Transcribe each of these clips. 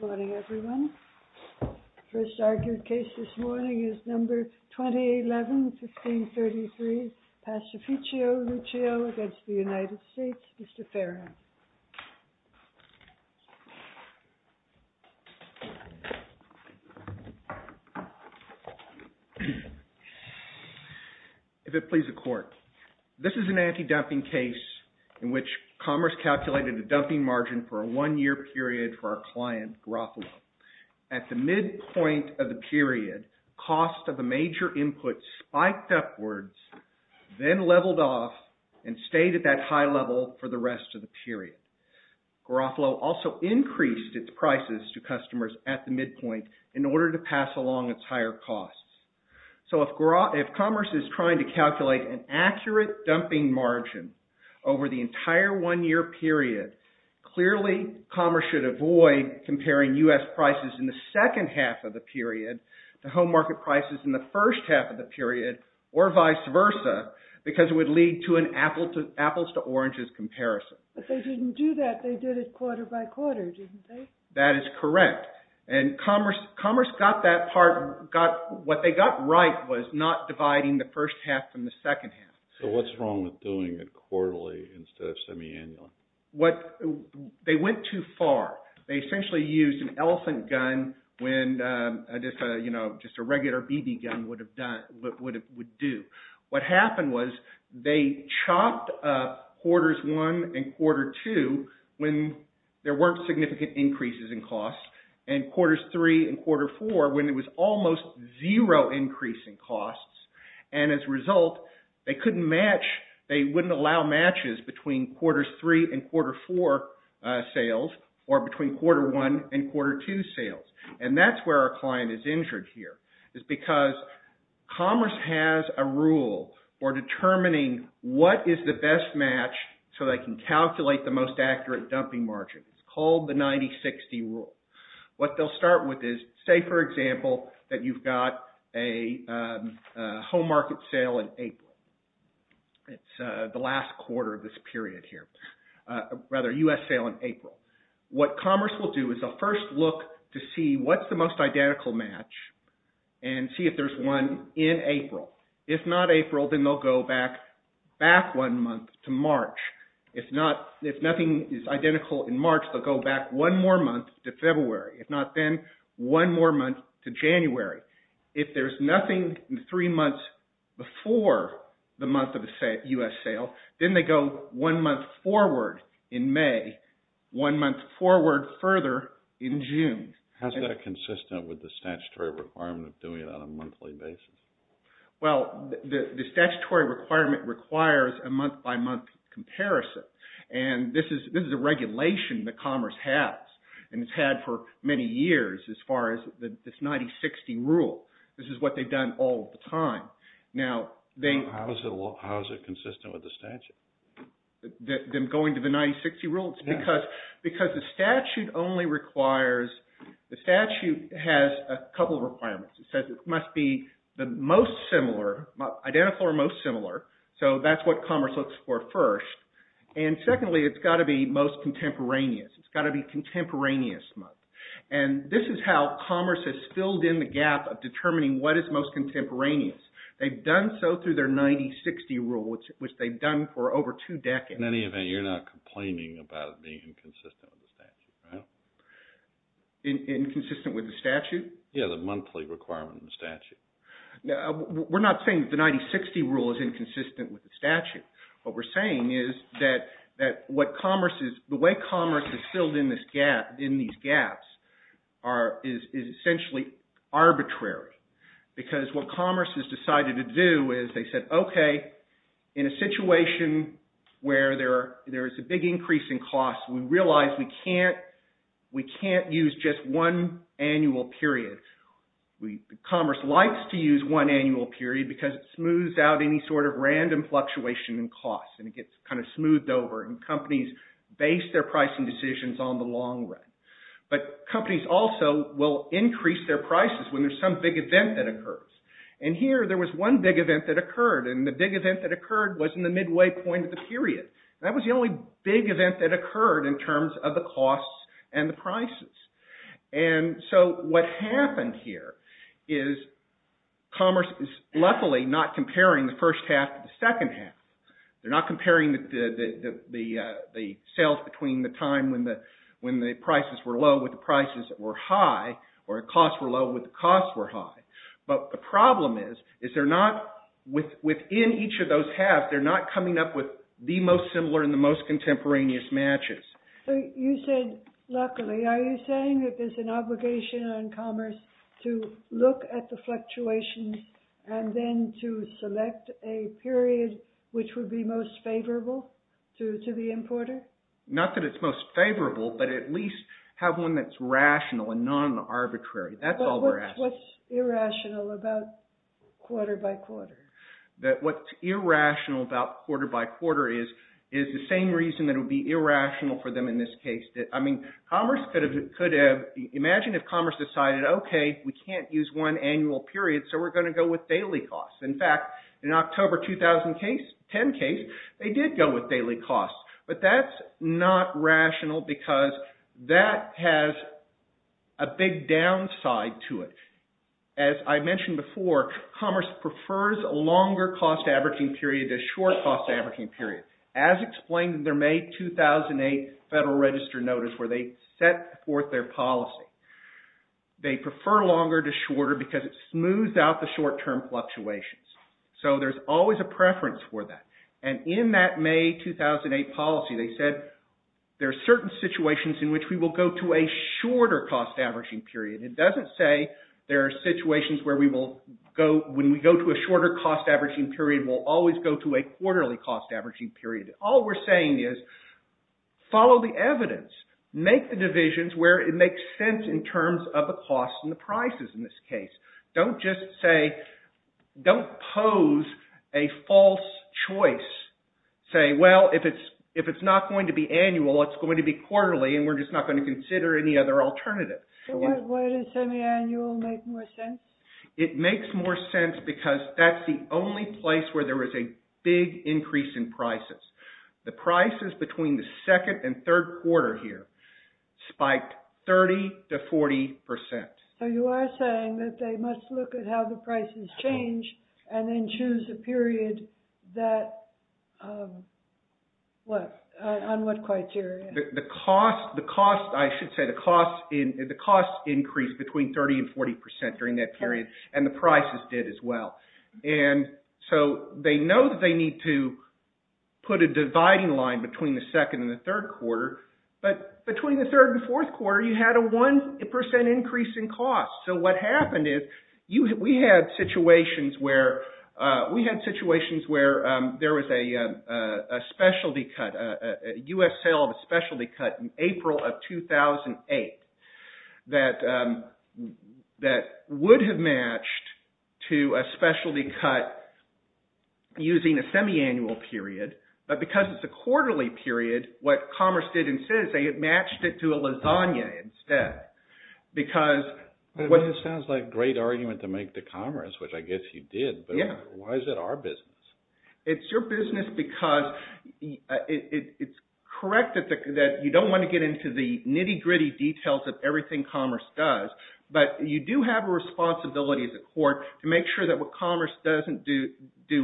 Good morning, everyone. The first argued case this morning is number 2011-1533, PASTIFICIO LUCIO v. United States. Mr. Farron. If it please the Court, this is an anti-dumping case in which Commerce calculated a dumping margin for a one-year period for our client, Garofalo. At the midpoint of the period, cost of a major input spiked upwards, then leveled off and stayed at that high level for the rest of the period. Garofalo also increased its prices to customers at the midpoint in order to pass along its higher costs. So if Commerce is trying to calculate an accurate dumping margin over the entire one-year period, clearly Commerce should avoid comparing U.S. prices in the second half of the period to home market prices in the first half of the period or vice versa because it would lead to an apples-to-oranges comparison. But they didn't do that. They did it quarter-by-quarter, didn't they? That is correct. And Commerce got that part right by not dividing the first half from the second half. So what's wrong with doing it quarterly instead of semi-annually? They went too far. They essentially used an elephant gun when just a regular BB gun would do. What happened was they chopped up quarters one and quarter two when there weren't significant increases in costs and quarters three and quarter four when there was almost zero increase in costs. And as a result, they wouldn't allow matches between quarters three and quarter four sales or between quarter one and quarter two sales. And that's where our client is injured here. It's because Commerce has a rule for determining what is the best match so they can calculate the most accurate dumping margin. It's called the 90-60 rule. What they'll start with is, say for example, that you've got a home market sale in April. It's the last quarter of this period here. Rather, a U.S. sale in April. What Commerce will do is a first look to see what's the most identical match and see if there's one in April. If not April, then they'll go back one month to March. If nothing is identical in March, they'll go back one more month to February. If not then, one more month to January. If there's nothing three months before the month of the U.S. sale, then they go one month forward in May, one month forward further in June. How's that consistent with the statutory requirement of doing it on a monthly basis? Well, the statutory requirement requires a month-by-month comparison. And this is a regulation that Commerce has. And it's had for many years as far as this 90-60 rule. This is what they've done all the time. How is it consistent with the statute? Them going to the 90-60 rule? Because the statute only requires, the statute has a couple of requirements. It says it must be the most similar, identical or most similar. So that's what Commerce looks for first. And secondly, it's got to be most contemporaneous. It's got to be contemporaneous month. And this is how Commerce has filled in the gap of determining what is most contemporaneous. They've done so through their 90-60 rule, which they've done for over two decades. In any event, you're not complaining about it being inconsistent with the statute, right? Inconsistent with the statute? Yeah, the monthly requirement in the statute. We're not saying the 90-60 rule is inconsistent with the statute. What we're saying is that what Commerce is, the way Commerce has filled in these gaps is essentially arbitrary. Because what Commerce has decided to do is, they said, okay, in a situation where there is a big increase in costs, we realize we can't use just one annual period. Commerce likes to use one annual period because it smooths out any sort of random fluctuation in costs and it gets kind of smoothed over and companies base their pricing decisions on the long run. But companies also will increase their prices when there's some big event that occurs. And here, there was one big event that occurred and the big event that occurred was in the midway point of the period. That was the only big event that occurred in terms of the costs and the prices. And so what happened here is Commerce is luckily not comparing the first half to the second half. They're not comparing the sales between the time when the prices were low with the prices that were high or the costs were low with the costs that were high. But the problem is, is they're not, within each of those halves, they're not coming up with the most similar and the most contemporaneous matches. So you said luckily. Are you saying that there's an obligation on Commerce to look at the fluctuations and then to select a period which would be most favorable to the importer? Not that it's most favorable, but at least have one that's rational and non-arbitrary. That's all we're asking. What's irrational about quarter by quarter? That what's irrational about quarter by quarter is the same reason that it would be irrational for them in this case. I mean, Commerce could have, imagine if Commerce decided, okay, we can't use one annual period, so we're going to go with daily costs. In fact, in October 2010 case, they did go with daily costs. But that's not rational because that has a big downside to it. As I mentioned before, Commerce prefers a longer cost averaging period to a short cost averaging period. As explained in their May 2008 Federal Register notice where they set forth their policy. They prefer longer to shorter because it smooths out the short term fluctuations. So there's always a preference for that. And in that May 2008 policy, they said there are certain situations in which we will go to a shorter cost averaging period. It doesn't say there are situations where we will go, when we go to a shorter cost averaging period, we'll always go to a quarterly cost averaging period. All we're saying is, follow the evidence. Make the divisions where it makes sense in terms of the costs and the prices in this case. Don't just say, don't pose a false choice. Say, well, if it's not going to be annual, it's going to be quarterly and we're just not going to consider any other alternative. Why does semi-annual make more sense? It makes more sense because that's the only place where there is a big increase in prices. The prices between the second and third quarter here spiked 30 to 40%. So you are saying that they must look at how the prices change and then choose a period that, what, on what criteria? The cost, I should say, the cost increased between 30 and 40% during that period and the prices did as well. And so they know that they need to put a dividing line between the second and the third quarter. But between the third and fourth quarter you had a 1% increase in cost. So what happened is we had situations where there was a specialty cut, a U.S. sale of a specialty cut in April of 2008 that would have matched to a specialty cut using a semi-annual period. But because it's a quarterly period what Commerce did instead is they matched it to a lasagna instead. Because... It sounds like a great argument to make to Commerce which I guess you did. Yeah. But why is it our business? It's your business because it's correct that you don't want to get into the nitty-gritty details of everything Commerce does. But you do have a responsibility as a court to make sure that what Commerce doesn't do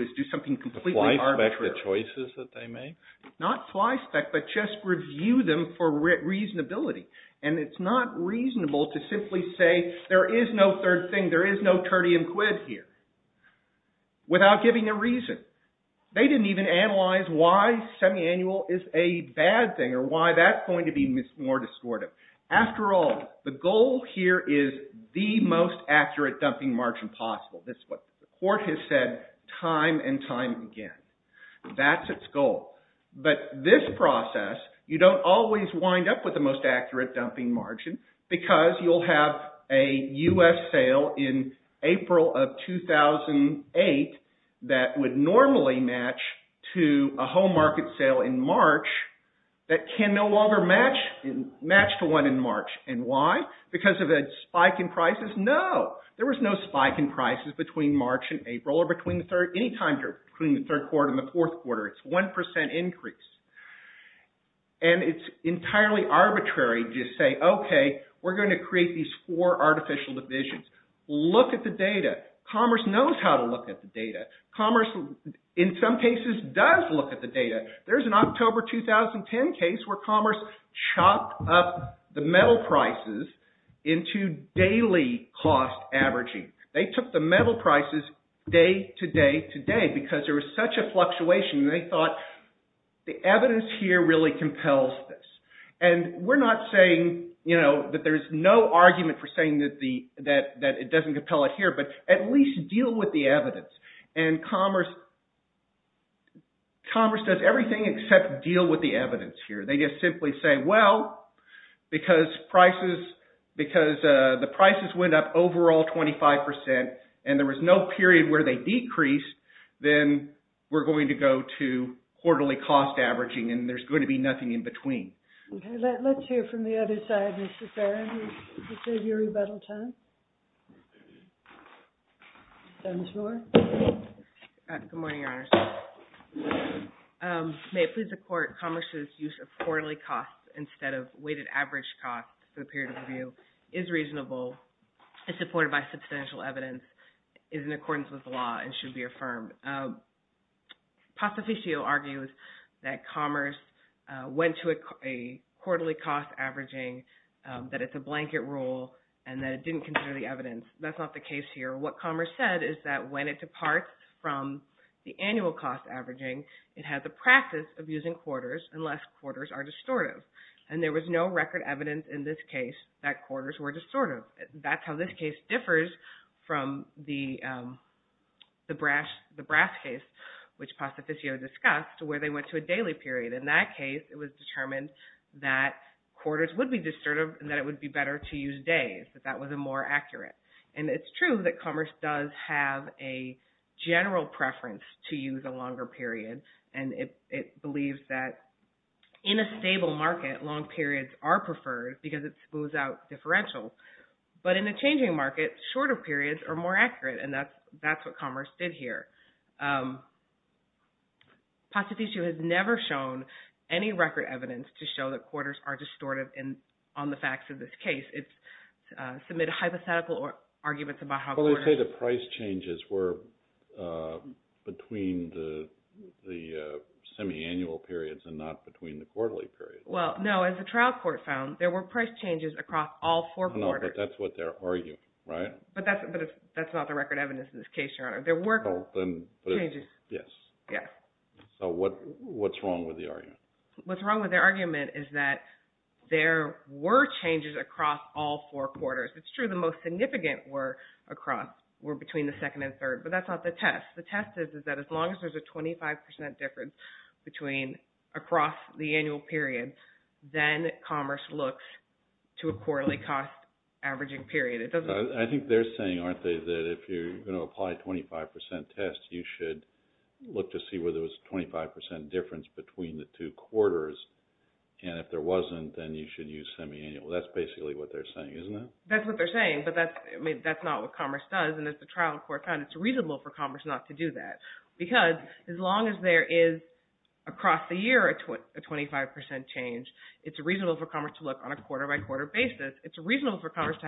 is do something completely arbitrary. Apply spec to the choices that they make? Not apply spec, but just review them for reasonability. And it's not reasonable to simply say there is no third thing, there is no turdy and quid here without giving a reason. They didn't even analyze why semi-annual is a bad thing or why that's going to be more distortive. After all, the goal here is the most accurate dumping margin possible. That's what the court has said time and time again. That's its goal. But this process, you don't always wind up with the most accurate dumping margin because you'll have a U.S. sale in April of 2008 that would normally match to a home market sale in March that can no longer match to one in March. And why? Because of a spike in prices? No! There was no spike in prices between March and April or any time between the third quarter and the fourth quarter. It's 1% increase. And it's entirely arbitrary to just say, okay, we're going to create these four artificial divisions. Look at the data. Commerce knows how to look at the data. Commerce, in some cases, does look at the data. There's an October 2010 case where Commerce chopped up the metal prices into daily cost averaging. They took the metal prices day to day to day because there was such a fluctuation. They thought, the evidence here really compels this. And we're not saying that there's no argument for saying that it doesn't compel it here, but at least deal with the evidence. And Commerce does everything except deal with the evidence here. They just simply say, well, because prices, because the prices went up overall 25% and there was no period where they decreased, then we're going to go to quarterly cost averaging and there's going to be nothing in between. Okay, let's hear from the other side, Mr. Farron. This is your rebuttal time. Ms. Moore. Good morning, Your Honors. May it please the Court, that Commerce's use of quarterly costs instead of weighted average costs for the period of review is reasonable, is supported by substantial evidence, is in accordance with the law and should be affirmed. Passoficio argues that Commerce went to a quarterly cost averaging, that it's a blanket rule, and that it didn't consider the evidence. That's not the case here. What Commerce said is that when it departs from the annual cost averaging, it has a practice of using quarters unless quarters are distortive. And there was no record evidence in this case that quarters were distortive. That's how this case differs from the brass case, which Passoficio discussed, where they went to a daily period. In that case, it was determined that quarters would be distortive and that it would be better to use days, that that was more accurate. And it's true that Commerce does have a general preference to use a longer period. And it believes that in a stable market, long periods are preferred because it smooths out differentials. But in a changing market, shorter periods are more accurate. And that's what Commerce did here. Passoficio has never shown any record evidence to show that quarters are distortive on the facts of this case. It's some hypothetical arguments about how quarters... Well, they say the price changes were between the semiannual periods and not between the quarterly periods. Well, no. As the trial court found, there were price changes across all four quarters. No, but that's what they're arguing, right? But that's not the record evidence in this case, Your Honor. There were changes. Yes. Yes. So what's wrong with the argument? What's wrong with their argument is that there were changes across all four quarters. It's true the most significant were between the second and third. But that's not the test. The test is that as long as there's a 25% difference across the annual period, then Commerce looks to a quarterly cost averaging period. I think they're saying, aren't they, that if you're going to apply 25% tests, you should look to see whether there was a 25% difference between the two quarters. And if there wasn't, That's basically what they're saying, isn't it? That's what they're saying. But that's not what Commerce does. And as the trial court found, it's reasonable for Commerce not to do that. Because as long as there is across the year a 25% change, it's reasonable for Commerce to look on a quarter-by-quarter basis. It's reasonable for Commerce to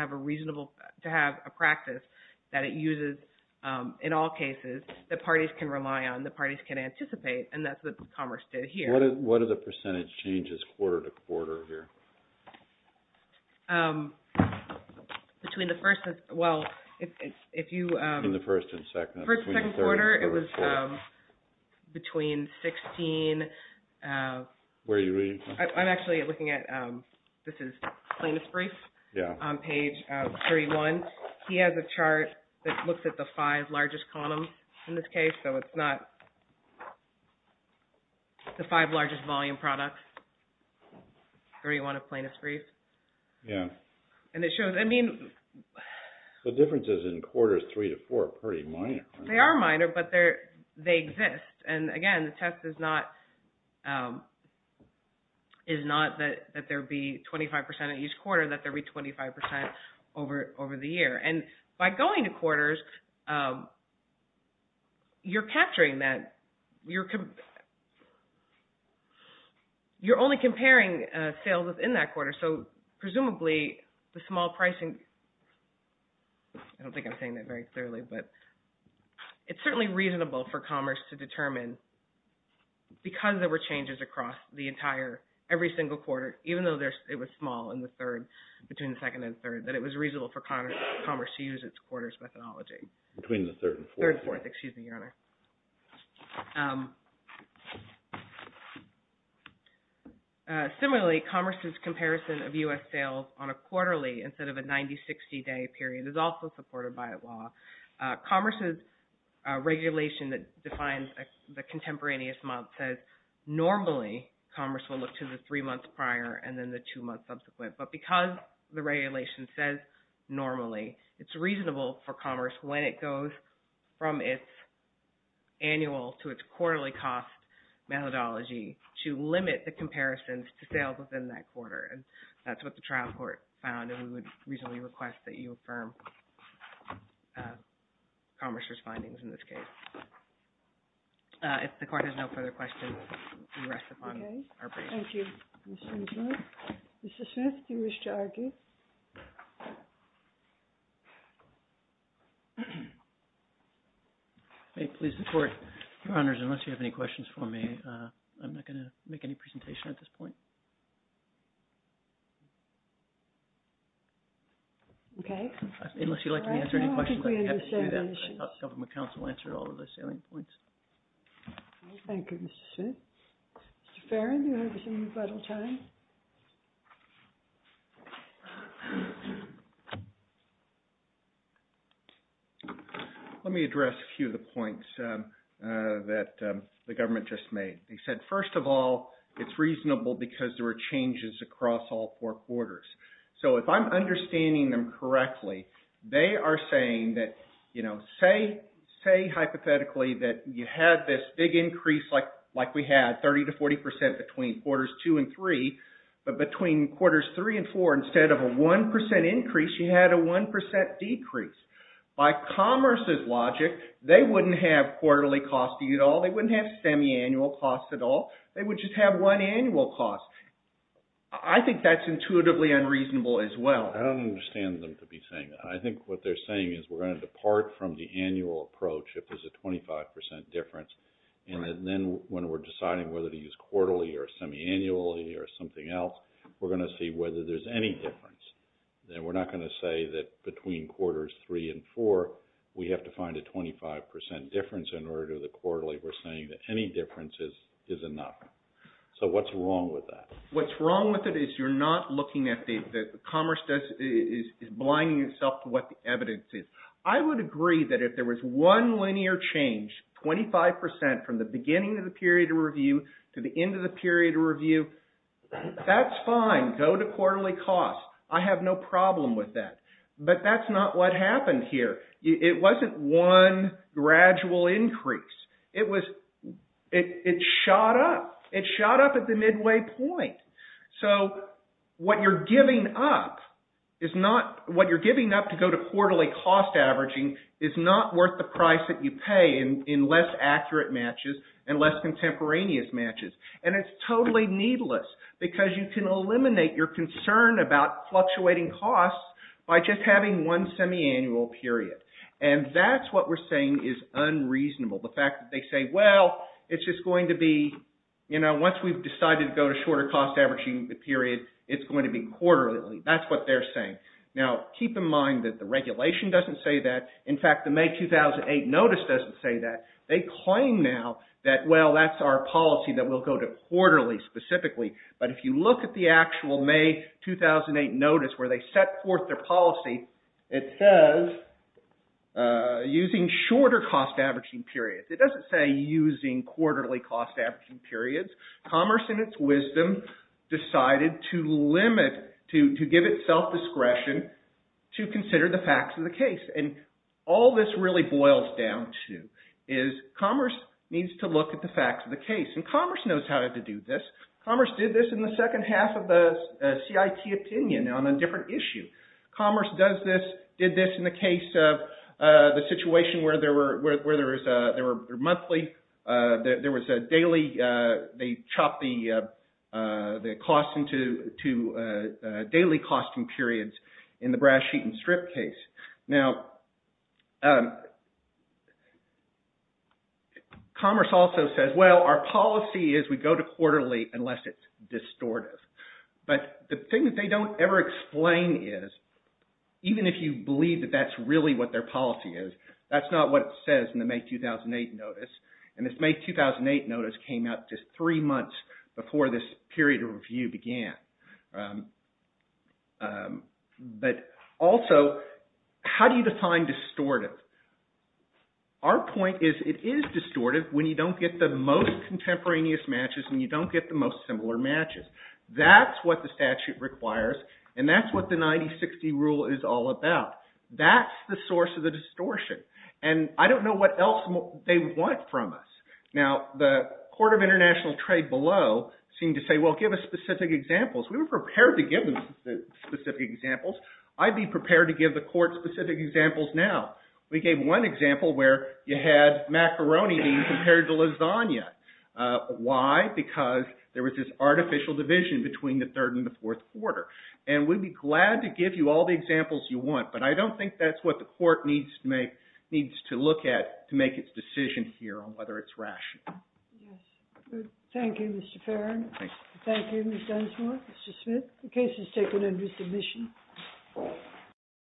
have a practice that it uses in all cases that parties can rely on, that parties can anticipate. And that's what Commerce did here. What are the percentage changes quarter to quarter here? Between the first and... Well, if you... In the first and second. First and second quarter, it was between 16... Where are you reading from? I'm actually looking at... This is plaintiff's brief. Yeah. On page 31. He has a chart that looks at the five largest columns in this case. So it's not the five largest volume products. 31 of plaintiff's brief. Yeah. And it shows, I mean... The differences in quarters three to four are pretty minor. They are minor, but they exist. And again, the test is not that there be 25% at each quarter, that there be 25% over the year. And by going to quarters, you're capturing that. You're... You're only comparing sales within that quarter. So presumably, the small pricing... I don't think I'm saying that very clearly, but... It's certainly reasonable for Commerce to determine, because there were changes across the entire, every single quarter, even though it was small in the third, between the second and third, that it was reasonable for Commerce to use its quarters methodology. Between the third and fourth. Third and fourth, excuse me, Your Honor. So... Similarly, Commerce's comparison of U.S. sales on a quarterly instead of a 90-60 day period is also supported by a law. Commerce's regulation that defines the contemporaneous month says, normally, Commerce will look to the three months prior and then the two months subsequent. But because the regulation says, normally, it's reasonable for Commerce when it goes from its annual to its quarterly cost methodology to limit the comparisons to sales within that quarter. And that's what the trial court found and we would reasonably request that you affirm Commerce's findings in this case. If the court has no further questions, we rest upon our break. Thank you, Mr. McClure. Mrs. Smith, do you wish to argue? May it please the court, Your Honors, unless you have any questions for me, I'm not going to make any presentation at this point. Okay. Unless you'd like me to answer any questions, I'd be happy to do that. I thought government counsel answered all of the salient points. Thank you, Mrs. Smith. Mr. Farron, do you have any rebuttal time? Let me address a few of the points that the government just made. They said, first of all, it's reasonable because there were changes across all four quarters. So if I'm understanding them correctly, they are saying that, you know, say, hypothetically, that you had this big increase like we had, 30 to 40 percent between quarters two and three, but between quarters three and four, instead of a 1 percent increase, you had a 1 percent decrease. By commerce's logic, they wouldn't have quarterly costs at all. They wouldn't have semi-annual costs at all. They would just have one annual cost. I think that's intuitively unreasonable as well. I don't understand them to be saying that. I think what they're saying is we're going to depart from the annual approach if there's a 25 percent difference, and then when we're deciding whether to use quarterly or semi-annually or something else, we're going to see whether there's any difference. We're not going to say that between quarters three and four, we have to find a 25 percent difference in order to the quarterly. We're saying that any difference is enough. So what's wrong with that? What's wrong with it is you're not looking at the commerce is blinding itself to what the evidence is. I would agree that if there was one linear change, 25 percent from the beginning of the period of review to the end of the period of review, that's fine. Go to quarterly costs. I have no problem with that. But that's not what happened here. It wasn't one gradual increase. It was, it shot up. It shot up at the midway point. So what you're giving up is not, what you're giving up to go to quarterly cost averaging is not worth the price that you pay in less accurate matches and less contemporaneous matches. And it's totally needless because you can eliminate your concern about fluctuating costs by just having one semiannual period. And that's what we're saying is unreasonable. The fact that they say, well, it's just going to be, you know, once we've decided to go to shorter cost averaging period, it's going to be quarterly. That's what they're saying. Now, keep in mind that the regulation doesn't say that. In fact, the May 2008 notice doesn't say that. They claim now that, well, that's our policy that we'll go to quarterly specifically. But if you look at the actual May 2008 notice where they set forth their policy, it says using shorter cost averaging periods. It doesn't say using quarterly cost averaging periods. Commerce, in its wisdom, decided to limit, to give it self-discretion to consider the facts of the case. And all this really boils down to is commerce needs to look at the facts of the case. And commerce knows how to do this. Commerce did this in the second half of the CIT opinion on a different issue. Commerce does this, did this in the case of the situation where there were, where there was a, there were monthly, there was a daily, they chopped the cost into daily costing periods in the brass sheet and strip case. Now, commerce also says, well, our policy is we go to quarterly unless it's distortive. But the thing that they don't ever explain is even if you believe that that's really what their policy is, that's not what it says in the May 2008 notice. And this May 2008 notice came out just three months before this period of review began. But also, how do you define distortive? Our point is it is distortive when you don't get the most contemporaneous matches and you don't get the most similar matches. That's what the statute requires and that's what the 90-60 rule is all about. That's the source of the distortion. And I don't know what else they want from us. Now, the Court of International Trade below seemed to say, well, give us specific examples. We were prepared to give them specific examples. I'd be prepared to give the court specific examples now. We gave one example where you had a macaroni bean compared to lasagna. Why? Because there was this artificial division between the third and the fourth quarter. And we'd be glad to give you all the examples you want, but I don't think that's what the court needs to make, needs to look at to make its decision here on whether it's rational. Thank you, Mr. Farron. Thank you, Ms. Dunsmore, Mr. Smith. The case is taken under submission.